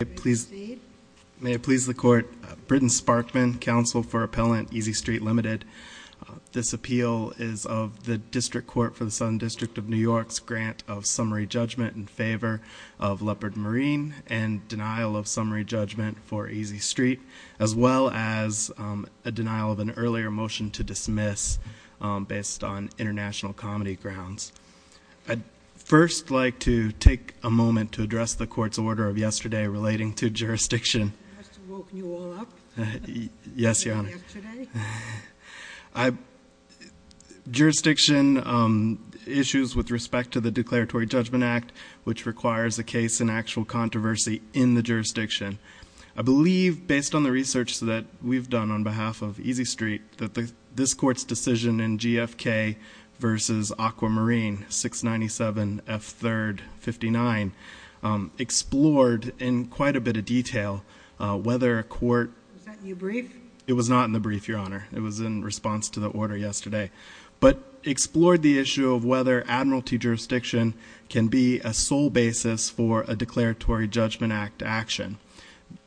May it please the Court, Britton Sparkman, Counsel for Appellant, Easy Street Ltd. This appeal is of the District Court for the Southern District of New York's grant of summary judgment in favor of Leopard Marine and denial of summary judgment for Easy Street, as well as a denial of an earlier motion to dismiss based on international comedy grounds. I'd first like to take a moment to address the Court's order of yesterday relating to jurisdiction. I must have woken you all up. Yes, Your Honor. Yesterday. Jurisdiction issues with respect to the Declaratory Judgment Act, which requires a case in actual controversy in the jurisdiction. I believe, based on the research that we've done on behalf of Easy Street, that this Court's decision in GFK v. Aquamarine, 697F3-59, explored in quite a bit of detail whether a court... Was that in your brief? It was not in the brief, Your Honor. It was in response to the order yesterday. But explored the issue of whether admiralty jurisdiction can be a sole basis for a Declaratory Judgment Act action.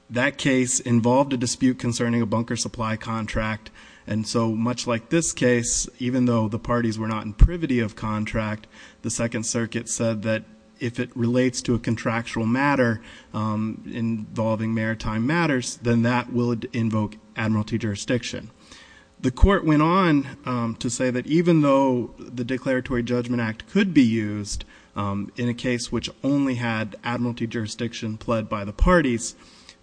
That case involved a dispute concerning a bunker supply contract, and so much like this case, even though the parties were not in privity of contract, the Second Circuit said that if it relates to a contractual matter involving maritime matters, then that would invoke admiralty jurisdiction. The Court went on to say that even though the Declaratory Judgment Act could be used in a case which only had admiralty jurisdiction pled by the parties,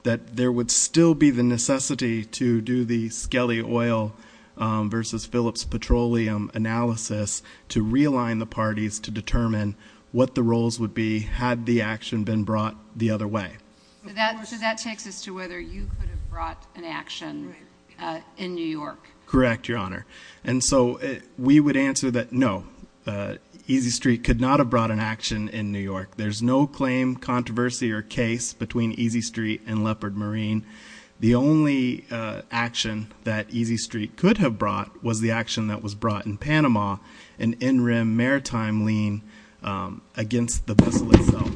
that there would still be the necessity to do the Skelly Oil v. Phillips Petroleum analysis to realign the parties to determine what the roles would be had the action been brought the other way. So that takes us to whether you could have brought an action in New York. Correct, Your Honor. And so we would answer that no, Easy Street could not have brought an action in New York. There's no claim, controversy, or case between Easy Street and Leopard Marine. The only action that Easy Street could have brought was the action that was brought in Panama, an in-rim maritime lien against the Bissell itself.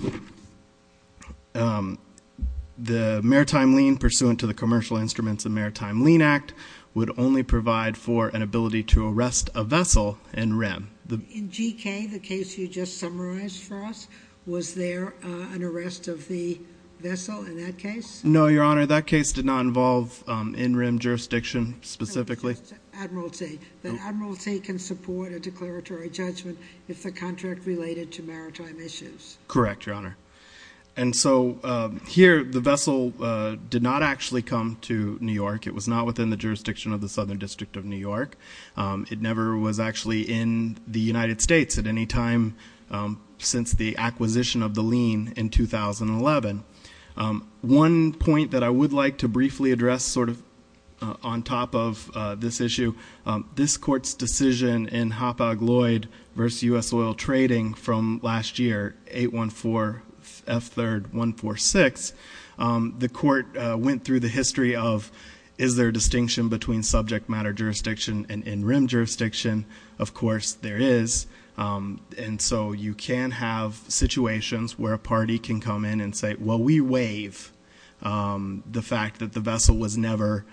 The maritime lien pursuant to the Commercial Instruments and Maritime Lien Act would only provide for an ability to arrest a vessel in-rim. In GK, the case you just summarized for us, was there an arrest of the vessel in that case? No, Your Honor. That case did not involve in-rim jurisdiction specifically. Admiralty. The admiralty can support a declaratory judgment if the contract related to maritime issues. Correct, Your Honor. And so here, the vessel did not actually come to New York. It was not within the jurisdiction of the Southern District of New York. It never was actually in the United States at any time since the acquisition of the lien in 2011. One point that I would like to briefly address sort of on top of this issue, this court's decision in Hoppag-Lloyd v. U.S. Oil Trading from last year, 814 F. 3rd 146, the court went through the history of is there a distinction between subject matter jurisdiction and in-rim jurisdiction? Of course, there is. And so you can have situations where a party can come in and say, well, we waive the fact that the vessel was never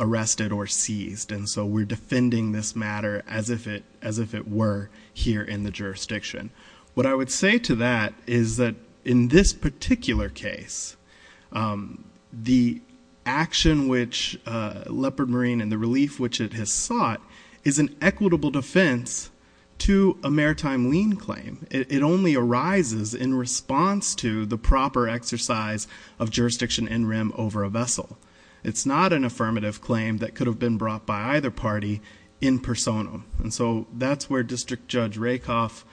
arrested or seized. And so we're defending this matter as if it were here in the jurisdiction. What I would say to that is that in this particular case, the action which Leopard Marine and the relief which it has sought is an equitable defense to a maritime lien claim. It only arises in response to the proper exercise of jurisdiction in-rim over a vessel. It's not an affirmative claim that could have been brought by either party in persona. And so that's where District Judge Rakoff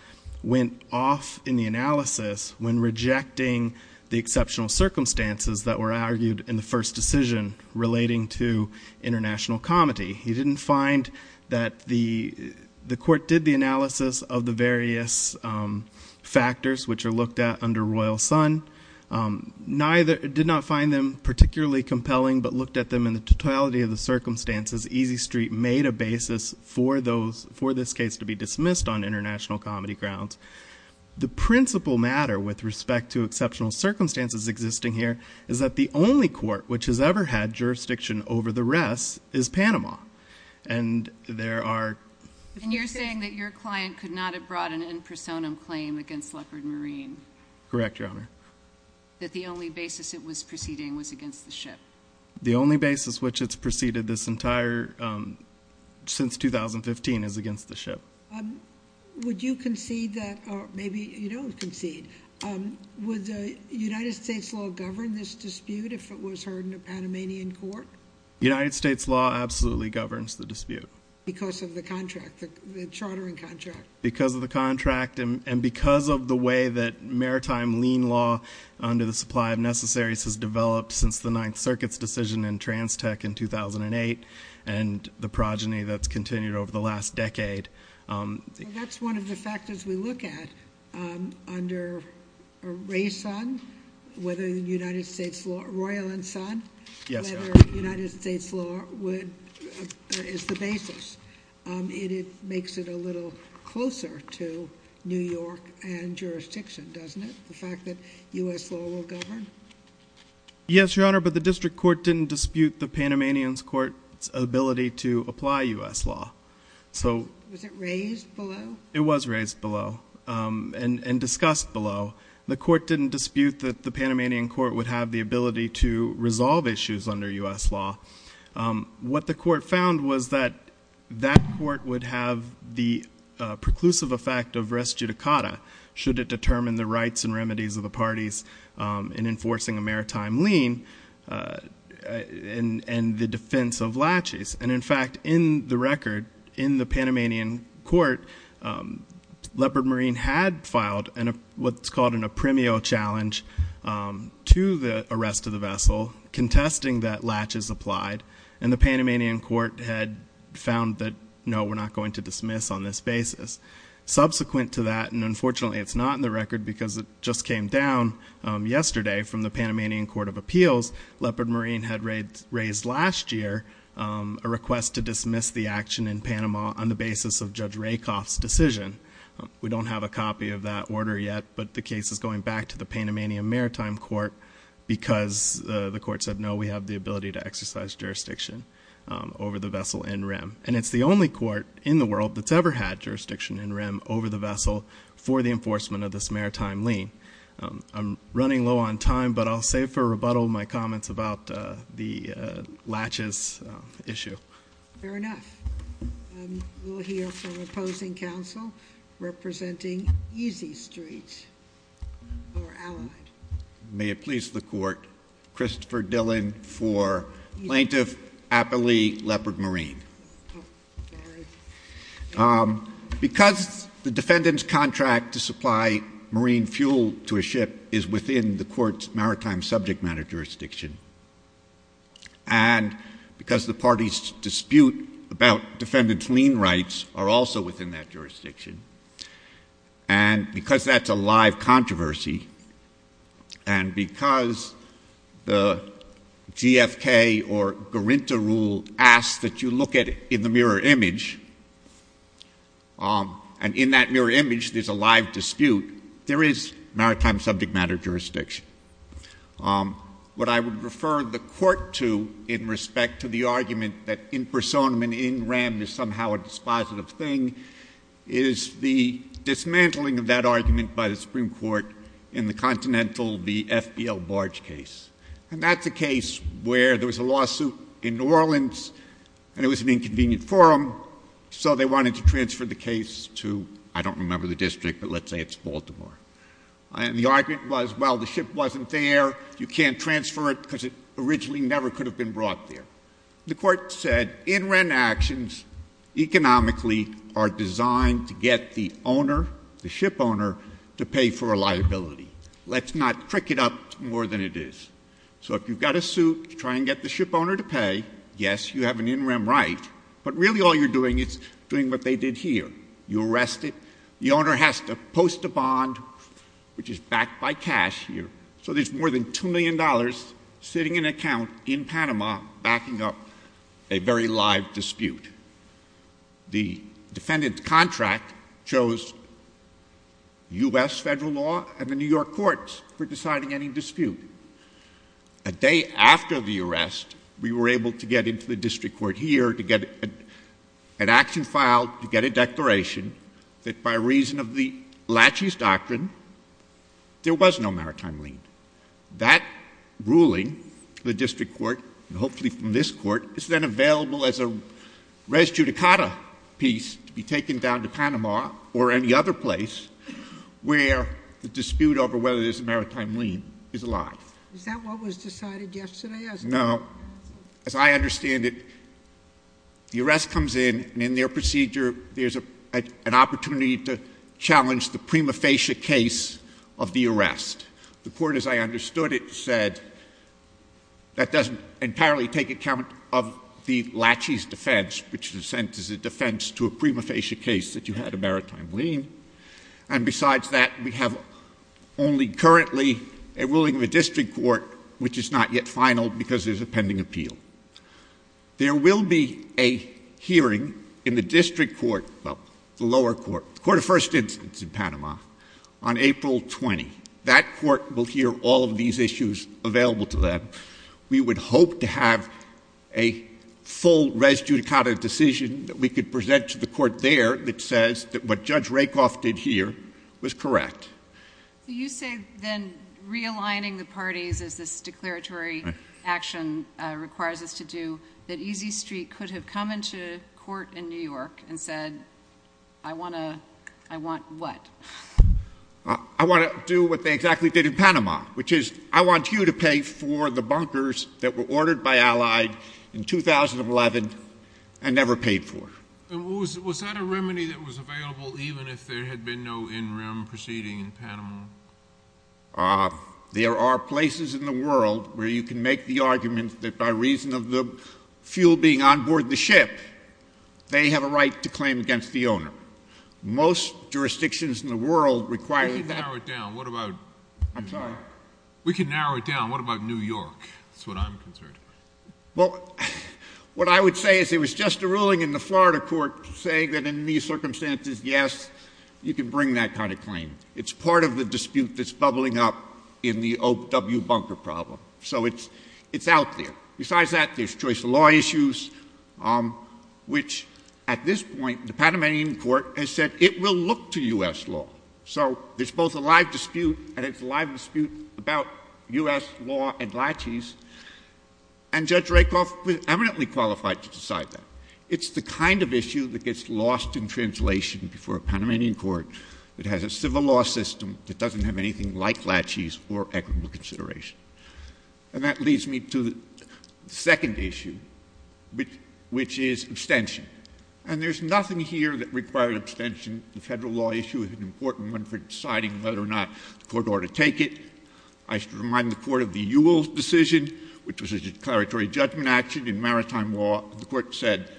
went off in the analysis when rejecting the exceptional circumstances that were argued in the first decision relating to international comity. He didn't find that the court did the analysis of the various factors which are looked at under Royal Sun. Neither did not find them particularly compelling but looked at them in the totality of the circumstances. Easy Street made a basis for this case to be dismissed on international comedy grounds. The principal matter with respect to exceptional circumstances existing here is that the only court which has ever had jurisdiction over the rest is Panama. And there are- And you're saying that your client could not have brought an in-persona claim against Leopard Marine. Correct, Your Honor. That the only basis it was proceeding was against the ship. The only basis which it's proceeded this entire, since 2015, is against the ship. Would you concede that, or maybe you don't concede, would the United States law govern this dispute if it was heard in a Panamanian court? United States law absolutely governs the dispute. Because of the contract, the chartering contract. Because of the contract and because of the way that maritime lien law under the supply of necessaries has developed since the Ninth Circuit's decision in Transtech in 2008 and the progeny that's continued over the last decade. That's one of the factors we look at under Ray Sun, whether the United States law, Royal and Sun. Yes, Your Honor. United States law is the basis. It makes it a little closer to New York and jurisdiction, doesn't it? The fact that U.S. law will govern? Yes, Your Honor, but the district court didn't dispute the Panamanian court's ability to apply U.S. law. Was it raised below? It was raised below and discussed below. The court didn't dispute that the Panamanian court would have the ability to resolve issues under U.S. law. What the court found was that that court would have the preclusive effect of res judicata, should it determine the rights and remedies of the parties in enforcing a maritime lien and the defense of latches. And, in fact, in the record, in the Panamanian court, Leopard Marine had filed what's called an apremio challenge to the arrest of the vessel contesting that latches applied. And the Panamanian court had found that, no, we're not going to dismiss on this basis. Subsequent to that, and unfortunately it's not in the record because it just came down yesterday from the Panamanian court of appeals, Leopard Marine had raised last year a request to dismiss the action in Panama on the basis of Judge Rakoff's decision. We don't have a copy of that order yet, but the case is going back to the Panamanian maritime court because the court said, no, we have the ability to exercise jurisdiction over the vessel in rem. And it's the only court in the world that's ever had jurisdiction in rem over the vessel for the enforcement of this maritime lien. I'm running low on time, but I'll save for a rebuttal in my comments about the latches issue. Fair enough, we'll hear from opposing counsel representing Easy Street or Allied. May it please the court, Christopher Dillon for Plaintiff Appley Leopard Marine. Because the defendant's contract to supply marine fuel to a ship is within the court's maritime subject matter jurisdiction. And because the party's dispute about defendant's lien rights are also within that jurisdiction. And because that's a live controversy. And because the GFK or Garinta rule asks that you look at it in the mirror image. And in that mirror image, there's a live dispute. There is maritime subject matter jurisdiction. What I would refer the court to in respect to the argument that in personam and in rem is somehow a dispositive thing, is the dismantling of that argument by the Supreme Court in the continental, the FPL barge case. And that's a case where there was a lawsuit in New Orleans and it was an inconvenient forum. So they wanted to transfer the case to, I don't remember the district, but let's say it's Baltimore. And the argument was, well, the ship wasn't there. You can't transfer it because it originally never could have been brought there. The court said in rem actions economically are designed to get the owner, the ship owner, to pay for a liability. Let's not trick it up more than it is. So if you've got a suit to try and get the ship owner to pay, yes, you have an in rem right. But really all you're doing is doing what they did here. You arrest it. The owner has to post a bond, which is backed by cash here. So there's more than $2 million sitting in an account in Panama backing up a very live dispute. The defendant's contract chose U.S. federal law and the New York courts for deciding any dispute. A day after the arrest, we were able to get into the district court here to get an action filed, to get a declaration that by reason of the Lachey's Doctrine, there was no maritime lien. That ruling, the district court, and hopefully from this court, is then available as a res judicata piece to be taken down to Panama or any other place where the dispute over whether there's a maritime lien is alive. Is that what was decided yesterday? No. As I understand it, the arrest comes in, and in their procedure, there's an opportunity to challenge the prima facie case of the arrest. The court, as I understood it, said that doesn't entirely take account of the Lachey's defense, which in a sense is a defense to a prima facie case that you had a maritime lien. And besides that, we have only currently a ruling of a district court, which is not yet finaled because there's a pending appeal. There will be a hearing in the district court, well, the lower court, the court of first instance in Panama, on April 20. That court will hear all of these issues available to them. We would hope to have a full res judicata decision that we could present to the court there that says that what Judge Rakoff did here was correct. Do you say then realigning the parties as this declaratory action requires us to do that Easy Street could have come into court in New York and said, I want to, I want what? I want to do what they exactly did in Panama, which is I want you to pay for the bunkers that were ordered by Allied in 2011 and never paid for. Was that a remedy that was available even if there had been no in-rim proceeding in Panama? There are places in the world where you can make the argument that by reason of the fuel being onboard the ship, they have a right to claim against the owner. Most jurisdictions in the world require that. I'm sorry. We can narrow it down. What about New York? That's what I'm concerned about. Well, what I would say is it was just a ruling in the Florida court saying that in these circumstances, yes, you can bring that kind of claim. It's part of the dispute that's bubbling up in the Oak W. Bunker problem. So it's out there. Besides that, there's choice of law issues, which at this point, the Panamanian court has said it will look to U.S. law. So there's both a live dispute, and it's a live dispute about U.S. law and laches. And Judge Rakoff was eminently qualified to decide that. It's the kind of issue that gets lost in translation before a Panamanian court that has a civil law system that doesn't have anything like laches or equitable consideration. And that leads me to the second issue, which is abstention. And there's nothing here that required abstention. The federal law issue is an important one for deciding whether or not the court ought to take it. I should remind the court of the Ewell decision, which was a declaratory judgment action in maritime law. The court said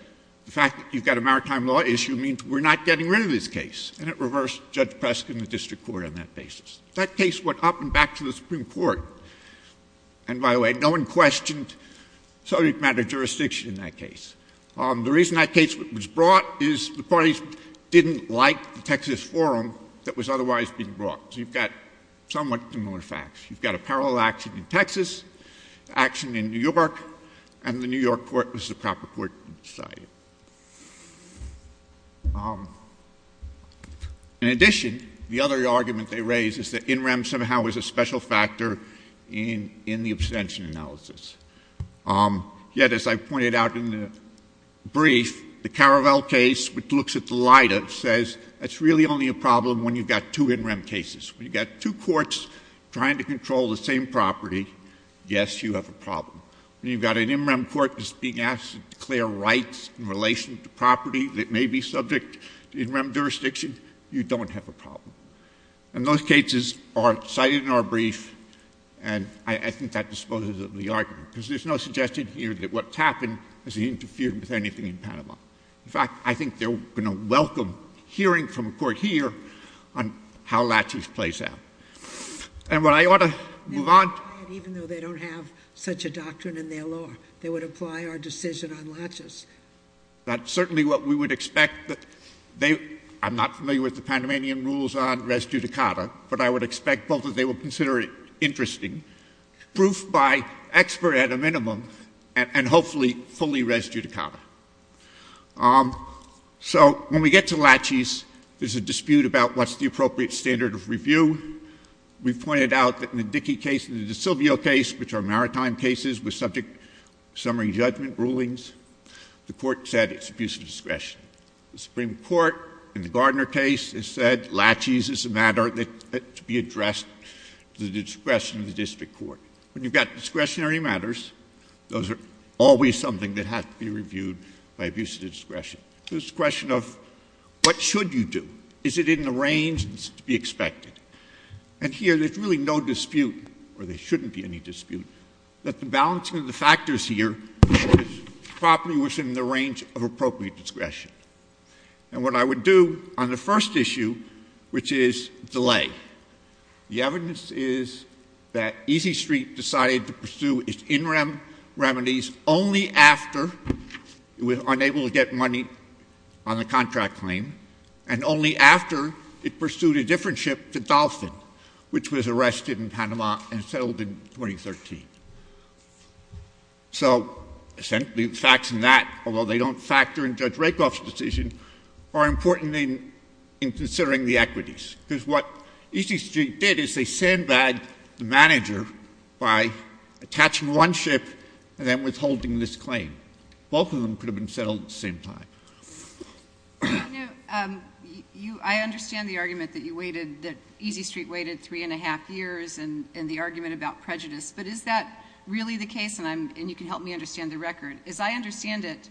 the fact that you've got a maritime law issue means we're not getting rid of this case. And it reversed Judge Preskin and the district court on that basis. That case went up and back to the Supreme Court. And by the way, no one questioned subject matter jurisdiction in that case. The reason that case was brought is the parties didn't like the Texas forum that was otherwise being brought. So you've got somewhat similar facts. You've got a parallel action in Texas, action in New York, and the New York court was the proper court to decide it. In addition, the other argument they raised is that NREM somehow was a special factor in the abstention analysis. Yet, as I pointed out in the brief, the Caravelle case, which looks at the LIDA, says that's really only a problem when you've got two NREM cases. When you've got two courts trying to control the same property, yes, you have a problem. When you've got an NREM court that's being asked to declare rights in relation to property that may be subject to NREM jurisdiction, you don't have a problem. And those cases are cited in our brief, and I think that disposes of the argument. Because there's no suggestion here that what's happened has interfered with anything in Panama. In fact, I think they're going to welcome hearing from a court here on how laches plays out. And what I ought to move on to— Even though they don't have such a doctrine in their law, they would apply our decision on laches. That's certainly what we would expect. I'm not familiar with the Panamanian rules on res judicata, but I would expect both that they would consider it interesting. Proof by expert at a minimum, and hopefully fully res judicata. So when we get to laches, there's a dispute about what's the appropriate standard of review. We've pointed out that in the Dickey case and the DiSilvio case, which are maritime cases with subject summary judgment rulings, the court said it's abuse of discretion. The Supreme Court, in the Gardner case, has said laches is a matter that should be addressed to the discretion of the district court. When you've got discretionary matters, those are always something that has to be reviewed by abuse of discretion. It's a question of what should you do? Is it in the range to be expected? And here, there's really no dispute, or there shouldn't be any dispute, that the balancing of the factors here is properly within the range of appropriate discretion. And what I would do on the first issue, which is delay. The evidence is that Easy Street decided to pursue its in-rem remedies only after it was unable to get money on the contract claim, and only after it pursued a different ship to Dauphin, which was arrested in Panama and settled in 2013. So, essentially, the facts in that, although they don't factor in Judge Rakoff's decision, are important in considering the equities. Because what Easy Street did is they sandbagged the manager by attaching one ship and then withholding this claim. Both of them could have been settled at the same time. I understand the argument that you waited, that Easy Street waited three and a half years, and the argument about prejudice. But is that really the case? And you can help me understand the record. As I understand it,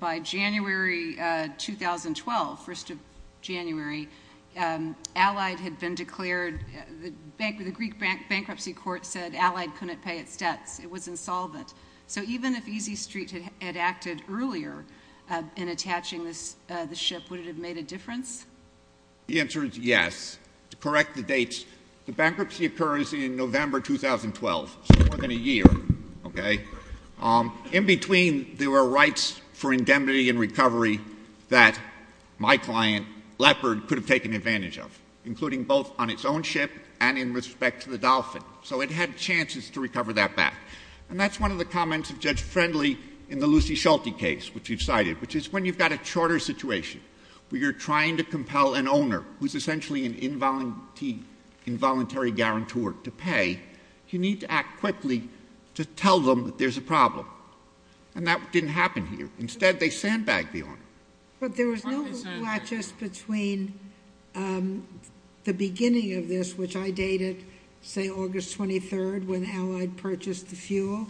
by January 2012, 1st of January, Allied had been declared — the Greek bankruptcy court said Allied couldn't pay its debts. It was insolvent. So even if Easy Street had acted earlier in attaching the ship, would it have made a difference? The answer is yes. To correct the dates, the bankruptcy occurs in November 2012, so more than a year, okay? In between, there were rights for indemnity and recovery that my client, Leopard, could have taken advantage of, including both on its own ship and in respect to the Dolphin. So it had chances to recover that back. And that's one of the comments of Judge Friendly in the Lucy Schulte case, which you've cited, which is when you've got a charter situation where you're trying to compel an owner, who's essentially an involuntary guarantor to pay, you need to act quickly to tell them that there's a problem. And that didn't happen here. Instead, they sandbagged the owner. But there was no latches between the beginning of this, which I dated, say, August 23rd, when Allied purchased the fuel,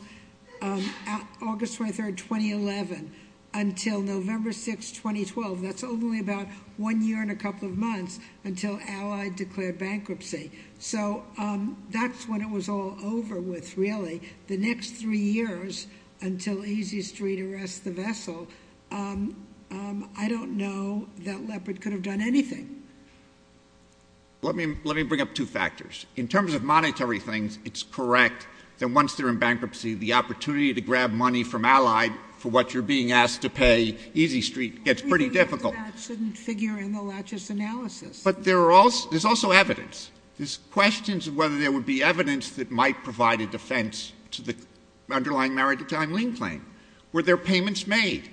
August 23rd, 2011, until November 6th, 2012. That's only about one year and a couple of months until Allied declared bankruptcy. So that's when it was all over with, really. The next three years, until Easy Street arrests the vessel, I don't know that Leopard could have done anything. Let me bring up two factors. In terms of monetary things, it's correct that once they're in bankruptcy, the opportunity to grab money from Allied for what you're being asked to pay Easy Street gets pretty difficult. We think that that shouldn't figure in the latches analysis. But there's also evidence. There's questions of whether there would be evidence that might provide a defense to the underlying maritime lien claim. Were there payments made?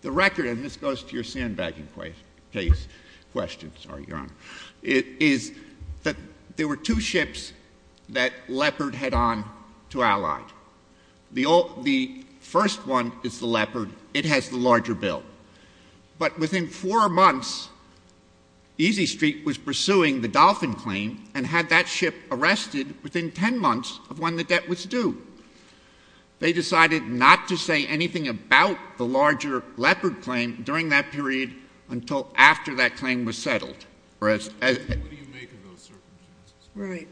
The record, and this goes to your sandbagging case question, sorry, Your Honor, is that there were two ships that Leopard had on to Allied. The first one is the Leopard. It has the larger bill. But within four months, Easy Street was pursuing the Dolphin claim and had that ship arrested within ten months of when the debt was due. They decided not to say anything about the larger Leopard claim during that period until after that claim was settled. What do you make of those circumstances? Right.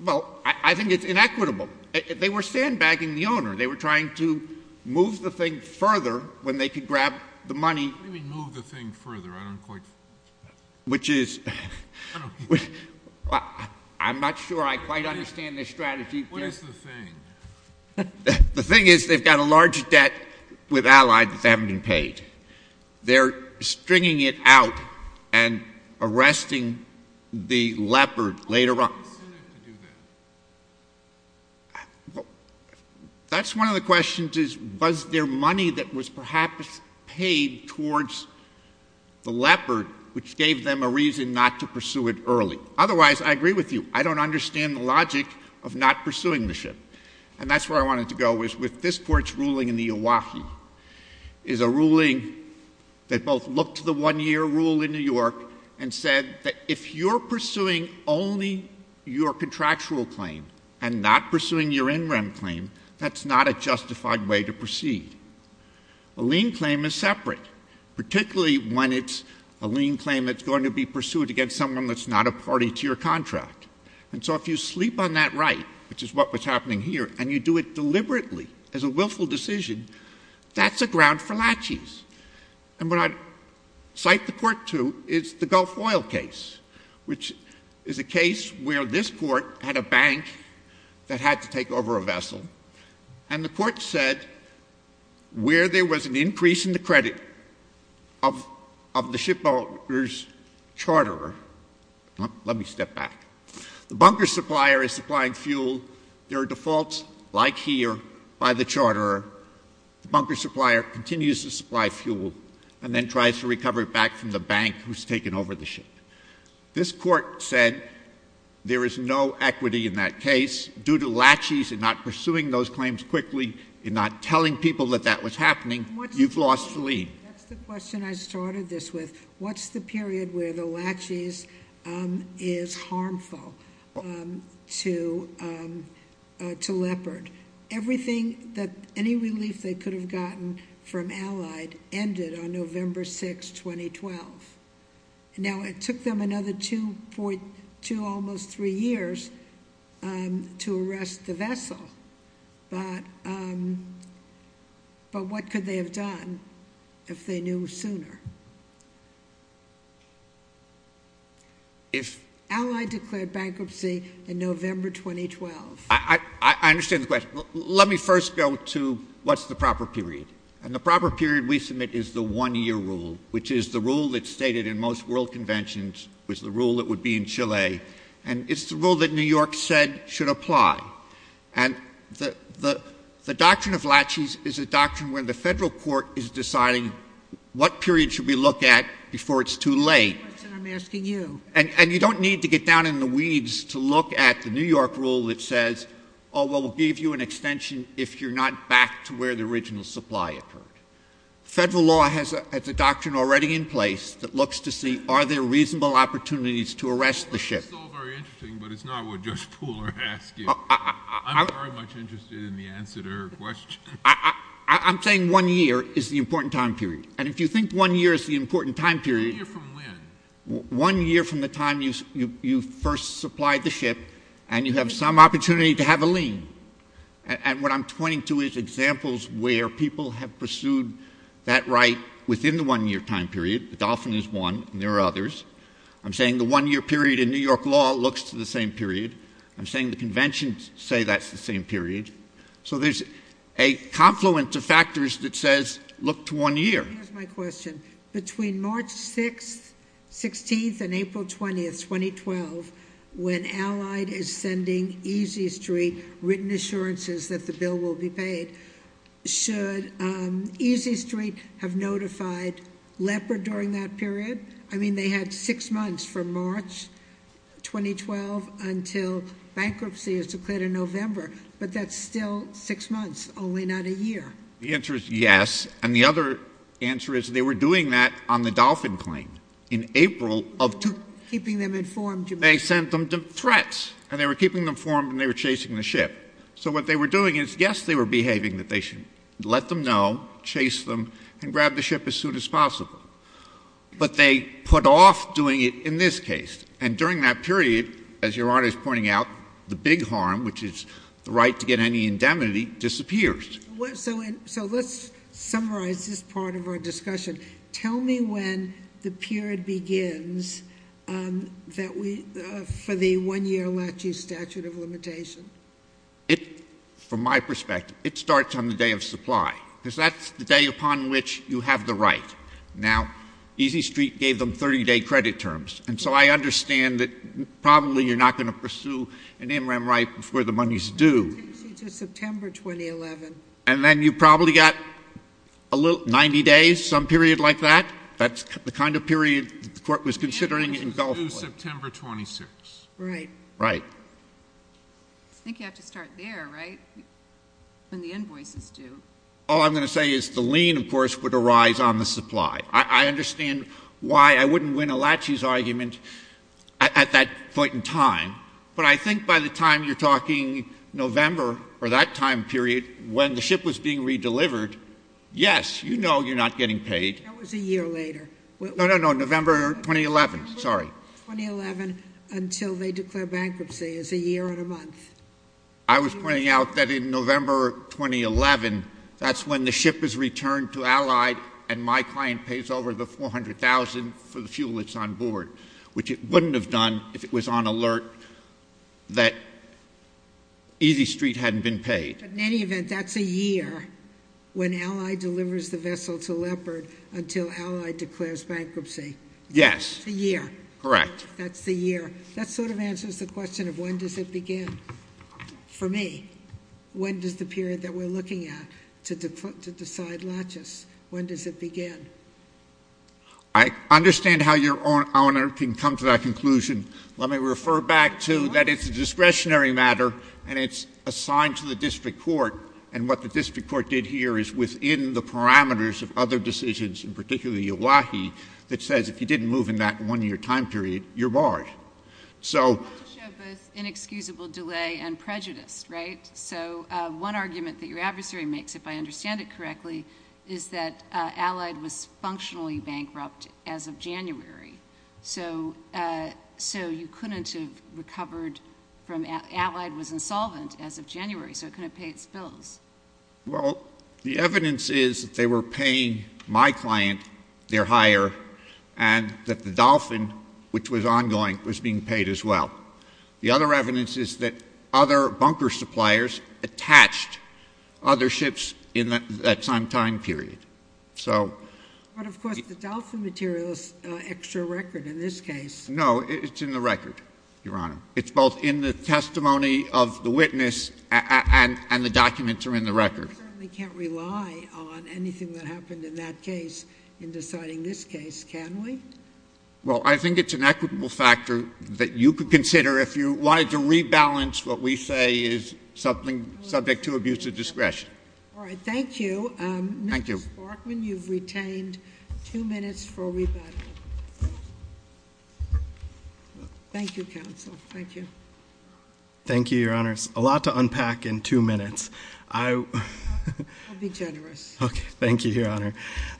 Well, I think it's inequitable. They were sandbagging the owner. They were trying to move the thing further when they could grab the money. What do you mean move the thing further? I don't quite. Which is. I'm not sure I quite understand this strategy. What is the thing? The thing is they've got a large debt with Allied that hasn't been paid. They're stringing it out and arresting the Leopard later on. Why would they send it to do that? That's one of the questions is was there money that was perhaps paid towards the Leopard, which gave them a reason not to pursue it early. Otherwise, I agree with you. I don't understand the logic of not pursuing the ship. And that's where I wanted to go was with this Court's ruling in the OAHI, is a ruling that both looked to the one-year rule in New York and said that if you're pursuing only your contractual claim and not pursuing your in-rem claim, that's not a justified way to proceed. A lien claim is separate, particularly when it's a lien claim that's going to be pursued against someone that's not a party to your contract. And so if you sleep on that right, which is what was happening here, and you do it deliberately as a willful decision, that's a ground for latches. And what I cite the Court to is the Gulf Oil case, which is a case where this Court had a bank that had to take over a vessel, and the Court said where there was an increase in the credit of the shipbuilder's charterer — let me step back — the bunker supplier is supplying fuel. There are defaults, like here, by the charterer. The bunker supplier continues to supply fuel and then tries to recover it back from the bank who's taken over the ship. This Court said there is no equity in that case. Due to latches and not pursuing those claims quickly and not telling people that that was happening, you've lost the lien. That's the question I started this with. What's the period where the latches is harmful to Leopard? Everything that—any relief they could have gotten from Allied ended on November 6, 2012. Now, it took them another two, almost three years to arrest the vessel, but what could they have done if they knew sooner? Allied declared bankruptcy in November 2012. I understand the question. Let me first go to what's the proper period. And the proper period we submit is the one-year rule, which is the rule that's stated in most world conventions, which is the rule that would be in Chile, and it's the rule that New York said should apply. And the doctrine of latches is a doctrine where the federal court is deciding what period should we look at before it's too late. That's the question I'm asking you. And you don't need to get down in the weeds to look at the New York rule that says, oh, well, we'll give you an extension if you're not back to where the original supply occurred. Federal law has a doctrine already in place that looks to see are there reasonable opportunities to arrest the ship. That's all very interesting, but it's not what Judge Poole is asking. I'm very much interested in the answer to her question. I'm saying one year is the important time period. And if you think one year is the important time period— One year from when? One year from the time you first supplied the ship and you have some opportunity to have a lien. And what I'm pointing to is examples where people have pursued that right within the one-year time period. The Dolphin is one, and there are others. I'm saying the one-year period in New York law looks to the same period. I'm saying the conventions say that's the same period. So there's a confluence of factors that says look to one year. Here's my question. Between March 6th, 16th, and April 20th, 2012, when Allied is sending Easy Street written assurances that the bill will be paid, should Easy Street have notified Leopard during that period? I mean they had six months from March 2012 until bankruptcy is declared in November, but that's still six months, only not a year. The answer is yes. And the other answer is they were doing that on the Dolphin claim in April of— Keeping them informed. They sent them threats, and they were keeping them informed, and they were chasing the ship. So what they were doing is, yes, they were behaving that they should let them know, chase them, and grab the ship as soon as possible. But they put off doing it in this case. And during that period, as Your Honor is pointing out, the big harm, which is the right to get any indemnity, disappears. So let's summarize this part of our discussion. Tell me when the period begins for the one-year LACHI statute of limitation. From my perspective, it starts on the day of supply, because that's the day upon which you have the right. Now, Easy Street gave them 30-day credit terms, and so I understand that probably you're not going to pursue an MRAM right before the money's due. It takes you to September 2011. And then you probably got 90 days, some period like that. That's the kind of period the Court was considering in Belfort. The end date was due September 26. Right. Right. I think you have to start there, right, when the invoice is due. All I'm going to say is the lien, of course, would arise on the supply. I understand why I wouldn't win a LACHI's argument at that point in time. But I think by the time you're talking November or that time period when the ship was being redelivered, yes, you know you're not getting paid. That was a year later. No, no, no, November 2011. Sorry. November 2011 until they declare bankruptcy is a year and a month. I was pointing out that in November 2011, that's when the ship is returned to Allied and my client pays over the $400,000 for the fuel that's on board, which it wouldn't have done if it was on alert that Easy Street hadn't been paid. But in any event, that's a year when Allied delivers the vessel to Leopard until Allied declares bankruptcy. Yes. That's a year. Correct. That's the year. That sort of answers the question of when does it begin for me. When does the period that we're looking at to decide LACHI's, when does it begin? I understand how Your Honor can come to that conclusion. Let me refer back to that it's a discretionary matter, and it's assigned to the district court, and what the district court did here is within the parameters of other decisions, and particularly LACHI, that says if you didn't move in that one-year time period, you're barred. I want to show both inexcusable delay and prejudice, right? So one argument that your adversary makes, if I understand it correctly, is that Allied was functionally bankrupt as of January, so you couldn't have recovered from Allied was insolvent as of January, so it couldn't pay its bills. Well, the evidence is that they were paying my client their hire, and that the Dolphin, which was ongoing, was being paid as well. The other evidence is that other bunker suppliers attached other ships in that same time period. But, of course, the Dolphin material is extra record in this case. No, it's in the record, Your Honor. It's both in the testimony of the witness and the documents are in the record. We certainly can't rely on anything that happened in that case in deciding this case, can we? Well, I think it's an equitable factor that you could consider if you wanted to rebalance what we say is subject to abuse of discretion. All right. Thank you. Thank you. Mr. Sparkman, you've retained two minutes for rebuttal. Thank you, counsel. Thank you. Thank you, Your Honor. It's a lot to unpack in two minutes. I'll be generous. Okay. Thank you, Your Honor.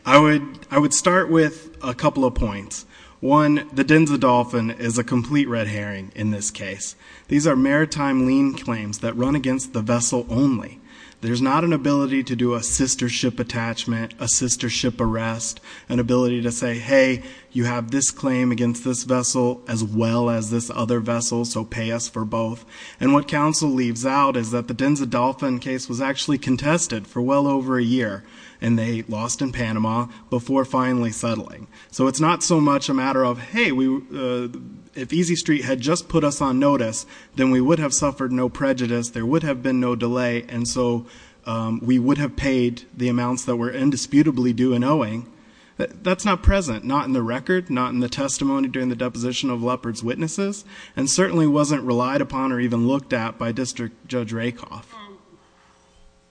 I would start with a couple of points. One, the Denza Dolphin is a complete red herring in this case. These are maritime lien claims that run against the vessel only. There's not an ability to do a sister ship attachment, a sister ship arrest, an ability to say, hey, you have this claim against this vessel as well as this other vessel, so pay us for both. And what counsel leaves out is that the Denza Dolphin case was actually contested for well over a year, and they lost in Panama before finally settling. So it's not so much a matter of, hey, if Easy Street had just put us on notice, then we would have suffered no prejudice, there would have been no delay, and so we would have paid the amounts that were indisputably due and owing. That's not present, not in the record, not in the testimony during the deposition of Leopard's witnesses, and certainly wasn't relied upon or even looked at by District Judge Rakoff.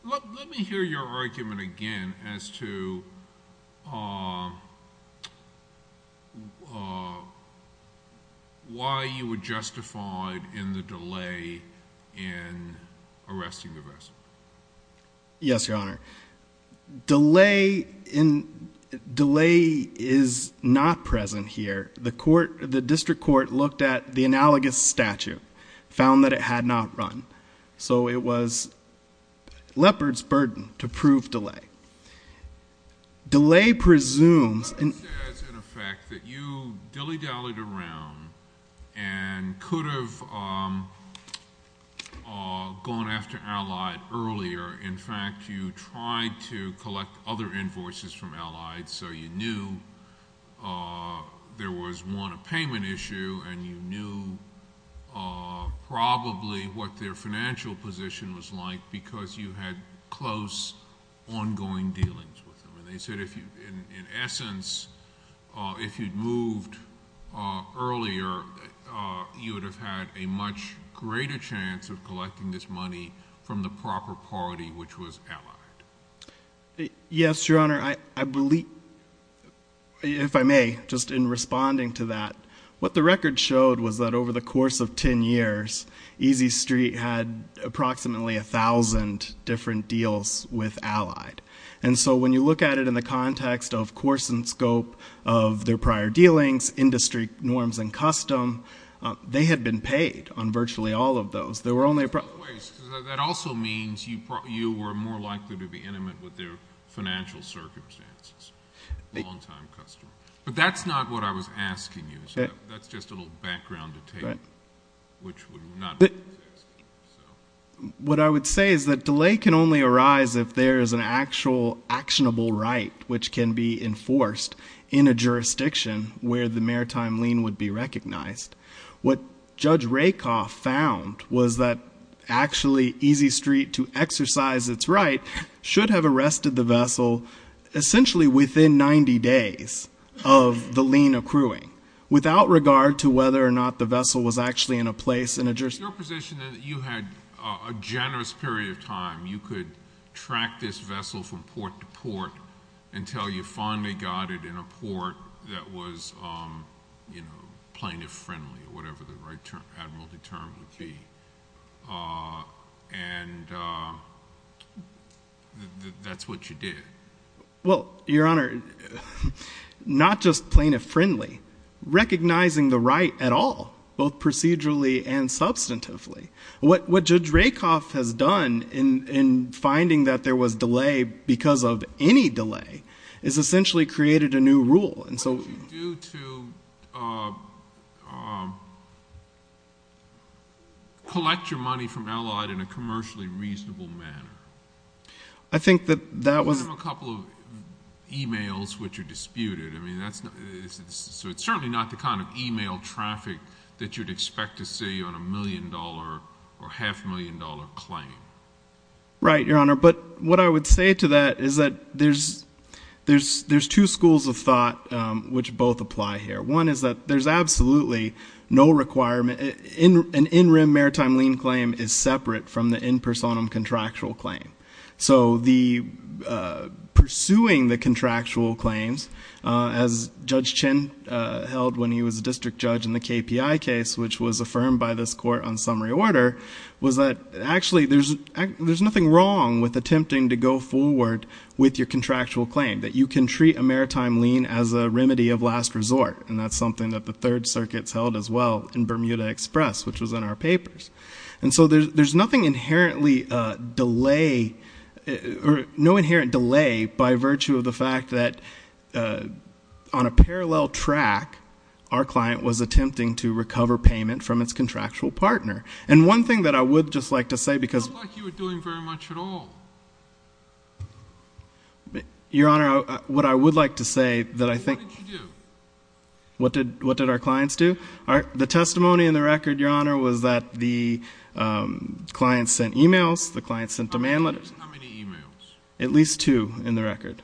Let me hear your argument again as to why you would justify in the delay in arresting the vessel. Yes, Your Honor. Delay is not present here. The District Court looked at the analogous statute, found that it had not run. So it was Leopard's burden to prove delay. Delay presumes in effect that you dilly-dallied around and could have gone after Allied earlier. In fact, you tried to collect other invoices from Allied, so you knew there was, one, a payment issue, and you knew probably what their financial position was like because you had close ongoing dealings with them. And they said, in essence, if you'd moved earlier, you would have had a much greater chance of collecting this money from the proper party, which was Allied. Yes, Your Honor. I believe, if I may, just in responding to that, what the record showed was that over the course of 10 years, Easy Street had approximately 1,000 different deals with Allied. And so when you look at it in the context of course and scope of their prior dealings, industry norms and custom, they had been paid on virtually all of those. That also means you were more likely to be intimate with their financial circumstances, long-time customer. But that's not what I was asking you. That's just a little background to take, which would not be what I was asking you. What I would say is that delay can only arise if there is an actual actionable right, which can be enforced in a jurisdiction where the maritime lien would be recognized. What Judge Rakoff found was that actually Easy Street, to exercise its right, should have arrested the vessel essentially within 90 days of the lien accruing, without regard to whether or not the vessel was actually in a place in a jurisdiction. Your position is that you had a generous period of time. You could track this vessel from port to port until you finally got it in a port that was plaintiff-friendly. Whatever the right admiralty term would be. And that's what you did. Well, Your Honor, not just plaintiff-friendly. Recognizing the right at all, both procedurally and substantively. What Judge Rakoff has done in finding that there was delay because of any delay, has essentially created a new rule. What would you do to collect your money from Allied in a commercially reasonable manner? I think that that was. Give them a couple of e-mails which are disputed. So it's certainly not the kind of e-mail traffic that you'd expect to see on a million-dollar or half-million-dollar claim. Right, Your Honor. But what I would say to that is that there's two schools of thought which both apply here. One is that there's absolutely no requirement. An in-rim maritime lien claim is separate from the in-personam contractual claim. So pursuing the contractual claims, as Judge Chin held when he was a district judge in the KPI case, which was affirmed by this court on summary order, was that actually there's nothing wrong with attempting to go forward with your contractual claim, that you can treat a maritime lien as a remedy of last resort. And that's something that the Third Circuit's held as well in Bermuda Express, which was in our papers. And so there's nothing inherently delay or no inherent delay by virtue of the fact that on a parallel track, our client was attempting to recover payment from its contractual partner. And one thing that I would just like to say because- It doesn't look like you were doing very much at all. Your Honor, what I would like to say that I think- What did you do? What did our clients do? The testimony in the record, Your Honor, was that the clients sent e-mails, the clients sent demand letters. How many e-mails? At least two in the record.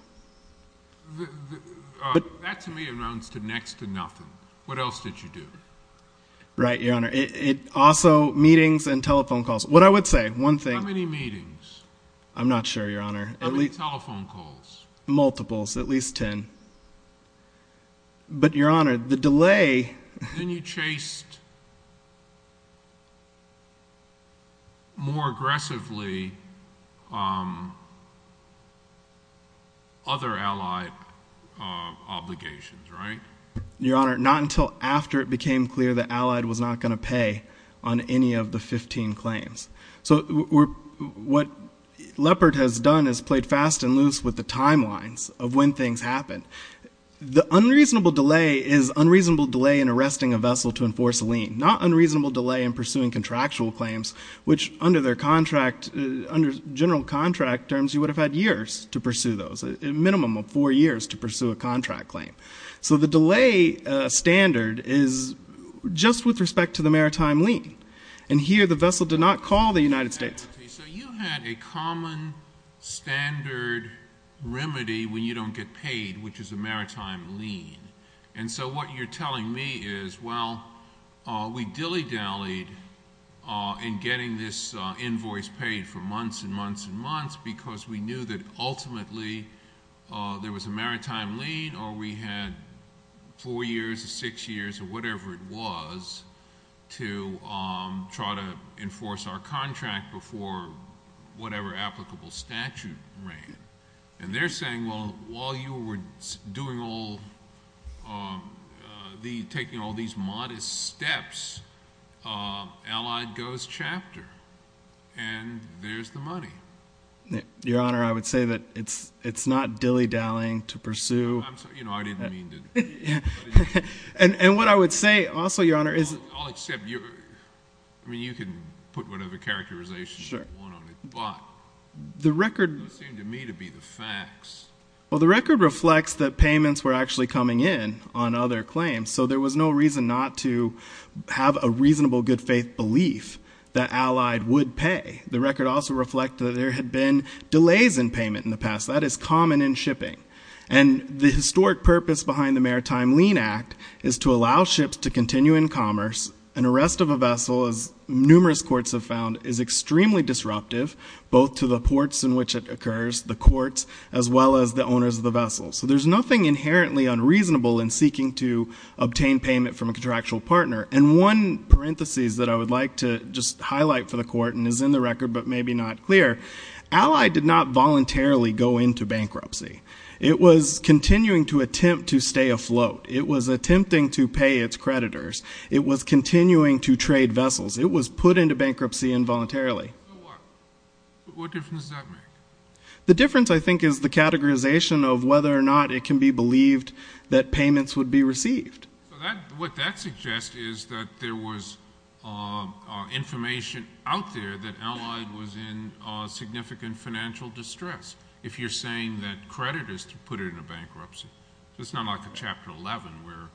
That to me amounts to next to nothing. What else did you do? Right, Your Honor. Also meetings and telephone calls. What I would say, one thing- How many meetings? I'm not sure, Your Honor. How many telephone calls? Multiples, at least ten. But, Your Honor, the delay- Then you chased more aggressively other Allied obligations, right? Your Honor, not until after it became clear that Allied was not going to pay on any of the 15 claims. So what Leopard has done is played fast and loose with the timelines of when things happened. The unreasonable delay is unreasonable delay in arresting a vessel to enforce a lien, not unreasonable delay in pursuing contractual claims, which under their contract, under general contract terms, you would have had years to pursue those, a minimum of four years to pursue a contract claim. So the delay standard is just with respect to the maritime lien. And here the vessel did not call the United States. So you had a common standard remedy when you don't get paid, which is a maritime lien. And so what you're telling me is, well, we dilly-dallied in getting this invoice paid for months and months and months because we knew that ultimately there was a maritime lien or we had four years or six years or whatever it was to try to enforce our contract before whatever applicable statute ran. And they're saying, well, while you were doing all the-taking all these modest steps, Allied goes chapter, and there's the money. Your Honor, I would say that it's not dilly-dallying to pursue- I'm sorry, you know, I didn't mean to- And what I would say also, Your Honor, is- I'll accept your-I mean, you can put whatever characterization you want on it. Sure. But it doesn't seem to me to be the facts. Well, the record reflects that payments were actually coming in on other claims. So there was no reason not to have a reasonable good faith belief that Allied would pay. The record also reflects that there had been delays in payment in the past. That is common in shipping. And the historic purpose behind the Maritime Lien Act is to allow ships to continue in commerce. An arrest of a vessel, as numerous courts have found, is extremely disruptive, both to the ports in which it occurs, the courts, as well as the owners of the vessel. So there's nothing inherently unreasonable in seeking to obtain payment from a contractual partner. And one parenthesis that I would like to just highlight for the Court, and is in the record but maybe not clear, Allied did not voluntarily go into bankruptcy. It was continuing to attempt to stay afloat. It was attempting to pay its creditors. It was continuing to trade vessels. It was put into bankruptcy involuntarily. So what? What difference does that make? The difference, I think, is the categorization of whether or not it can be believed that payments would be received. So what that suggests is that there was information out there that Allied was in significant financial distress. If you're saying that creditors put it into bankruptcy, it's not like a Chapter 11 where,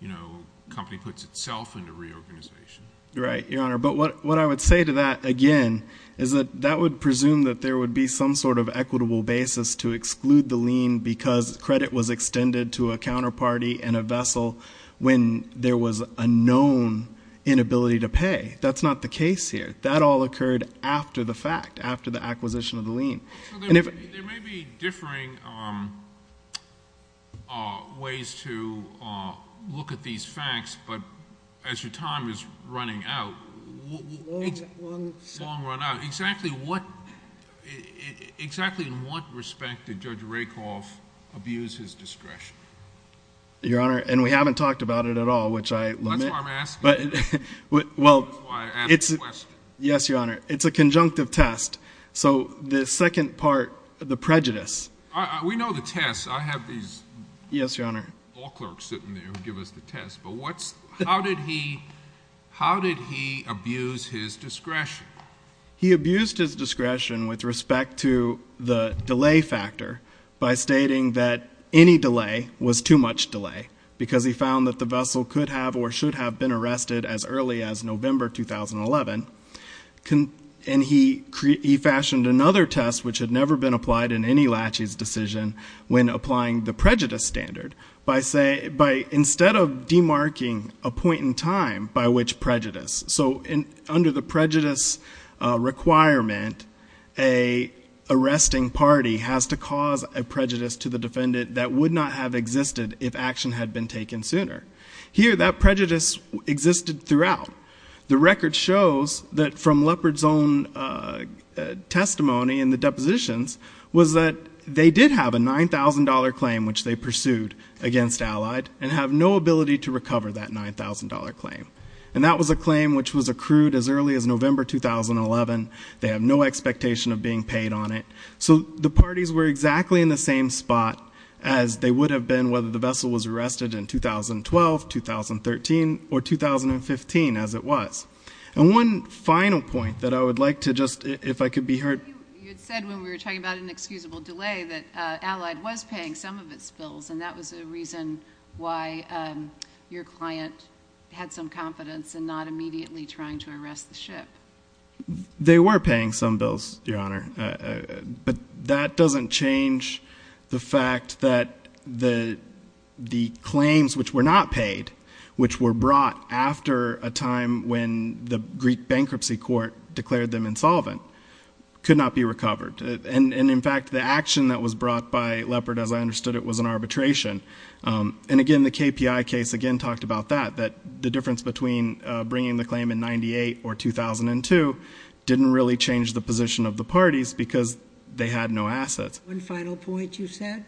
you know, a company puts itself into reorganization. Right, Your Honor. But what I would say to that, again, is that that would presume that there would be some sort of equitable basis to exclude the lien because credit was extended to a counterparty and a vessel when there was a known inability to pay. That's not the case here. That all occurred after the fact, after the acquisition of the lien. There may be differing ways to look at these facts, but as your time is running out, long run out, exactly in what respect did Judge Rakoff abuse his discretion? Your Honor, and we haven't talked about it at all, which I limit. That's why I'm asking. That's why I asked the question. Yes, Your Honor. It's a conjunctive test. So the second part, the prejudice. We know the test. I have these law clerks sitting there who give us the test. But how did he abuse his discretion? He abused his discretion with respect to the delay factor by stating that any delay was too much delay because he found that the vessel could have or should have been arrested as early as November 2011. And he fashioned another test, which had never been applied in any laches decision, when applying the prejudice standard by instead of demarking a point in time by which prejudice. So under the prejudice requirement, a arresting party has to cause a prejudice to the defendant that would not have existed if action had been taken sooner. Here, that prejudice existed throughout. The record shows that from Leopard's own testimony in the depositions, was that they did have a $9,000 claim which they pursued against Allied and have no ability to recover that $9,000 claim. And that was a claim which was accrued as early as November 2011. They have no expectation of being paid on it. So the parties were exactly in the same spot as they would have been whether the vessel was arrested in 2012, 2013, or 2015 as it was. And one final point that I would like to just, if I could be heard. You had said when we were talking about inexcusable delay that Allied was paying some of its bills, and that was a reason why your client had some confidence in not immediately trying to arrest the ship. They were paying some bills, Your Honor. But that doesn't change the fact that the claims which were not paid, which were brought after a time when the Greek bankruptcy court declared them insolvent, could not be recovered. And in fact, the action that was brought by Leopard, as I understood it, was an arbitration. And again, the KPI case again talked about that, that the difference between bringing the claim in 98 or 2002 didn't really change the position of the parties because they had no assets. One final point you said?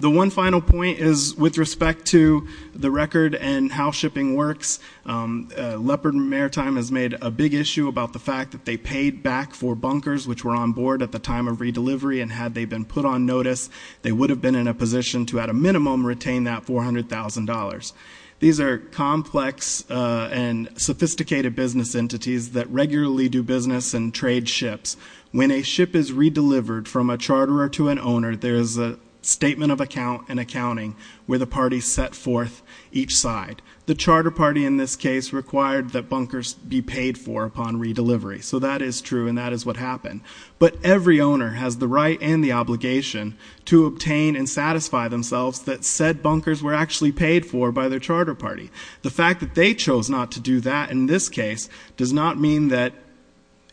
The one final point is with respect to the record and how shipping works, Leopard Maritime has made a big issue about the fact that they paid back for bunkers which were on board at the time of redelivery, and had they been put on notice, they would have been in a position to at a minimum retain that $400,000. These are complex and sophisticated business entities that regularly do business and trade ships. When a ship is redelivered from a charterer to an owner, there is a statement of account and accounting where the parties set forth each side. The charter party in this case required that bunkers be paid for upon redelivery. So that is true and that is what happened. But every owner has the right and the obligation to obtain and satisfy themselves that said bunkers were actually paid for by their charter party. The fact that they chose not to do that in this case does not mean that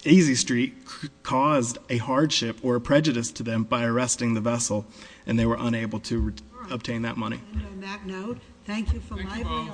Easy Street caused a hardship or a prejudice to them by arresting the vessel, and they were unable to obtain that money. On that note, thank you for library hours.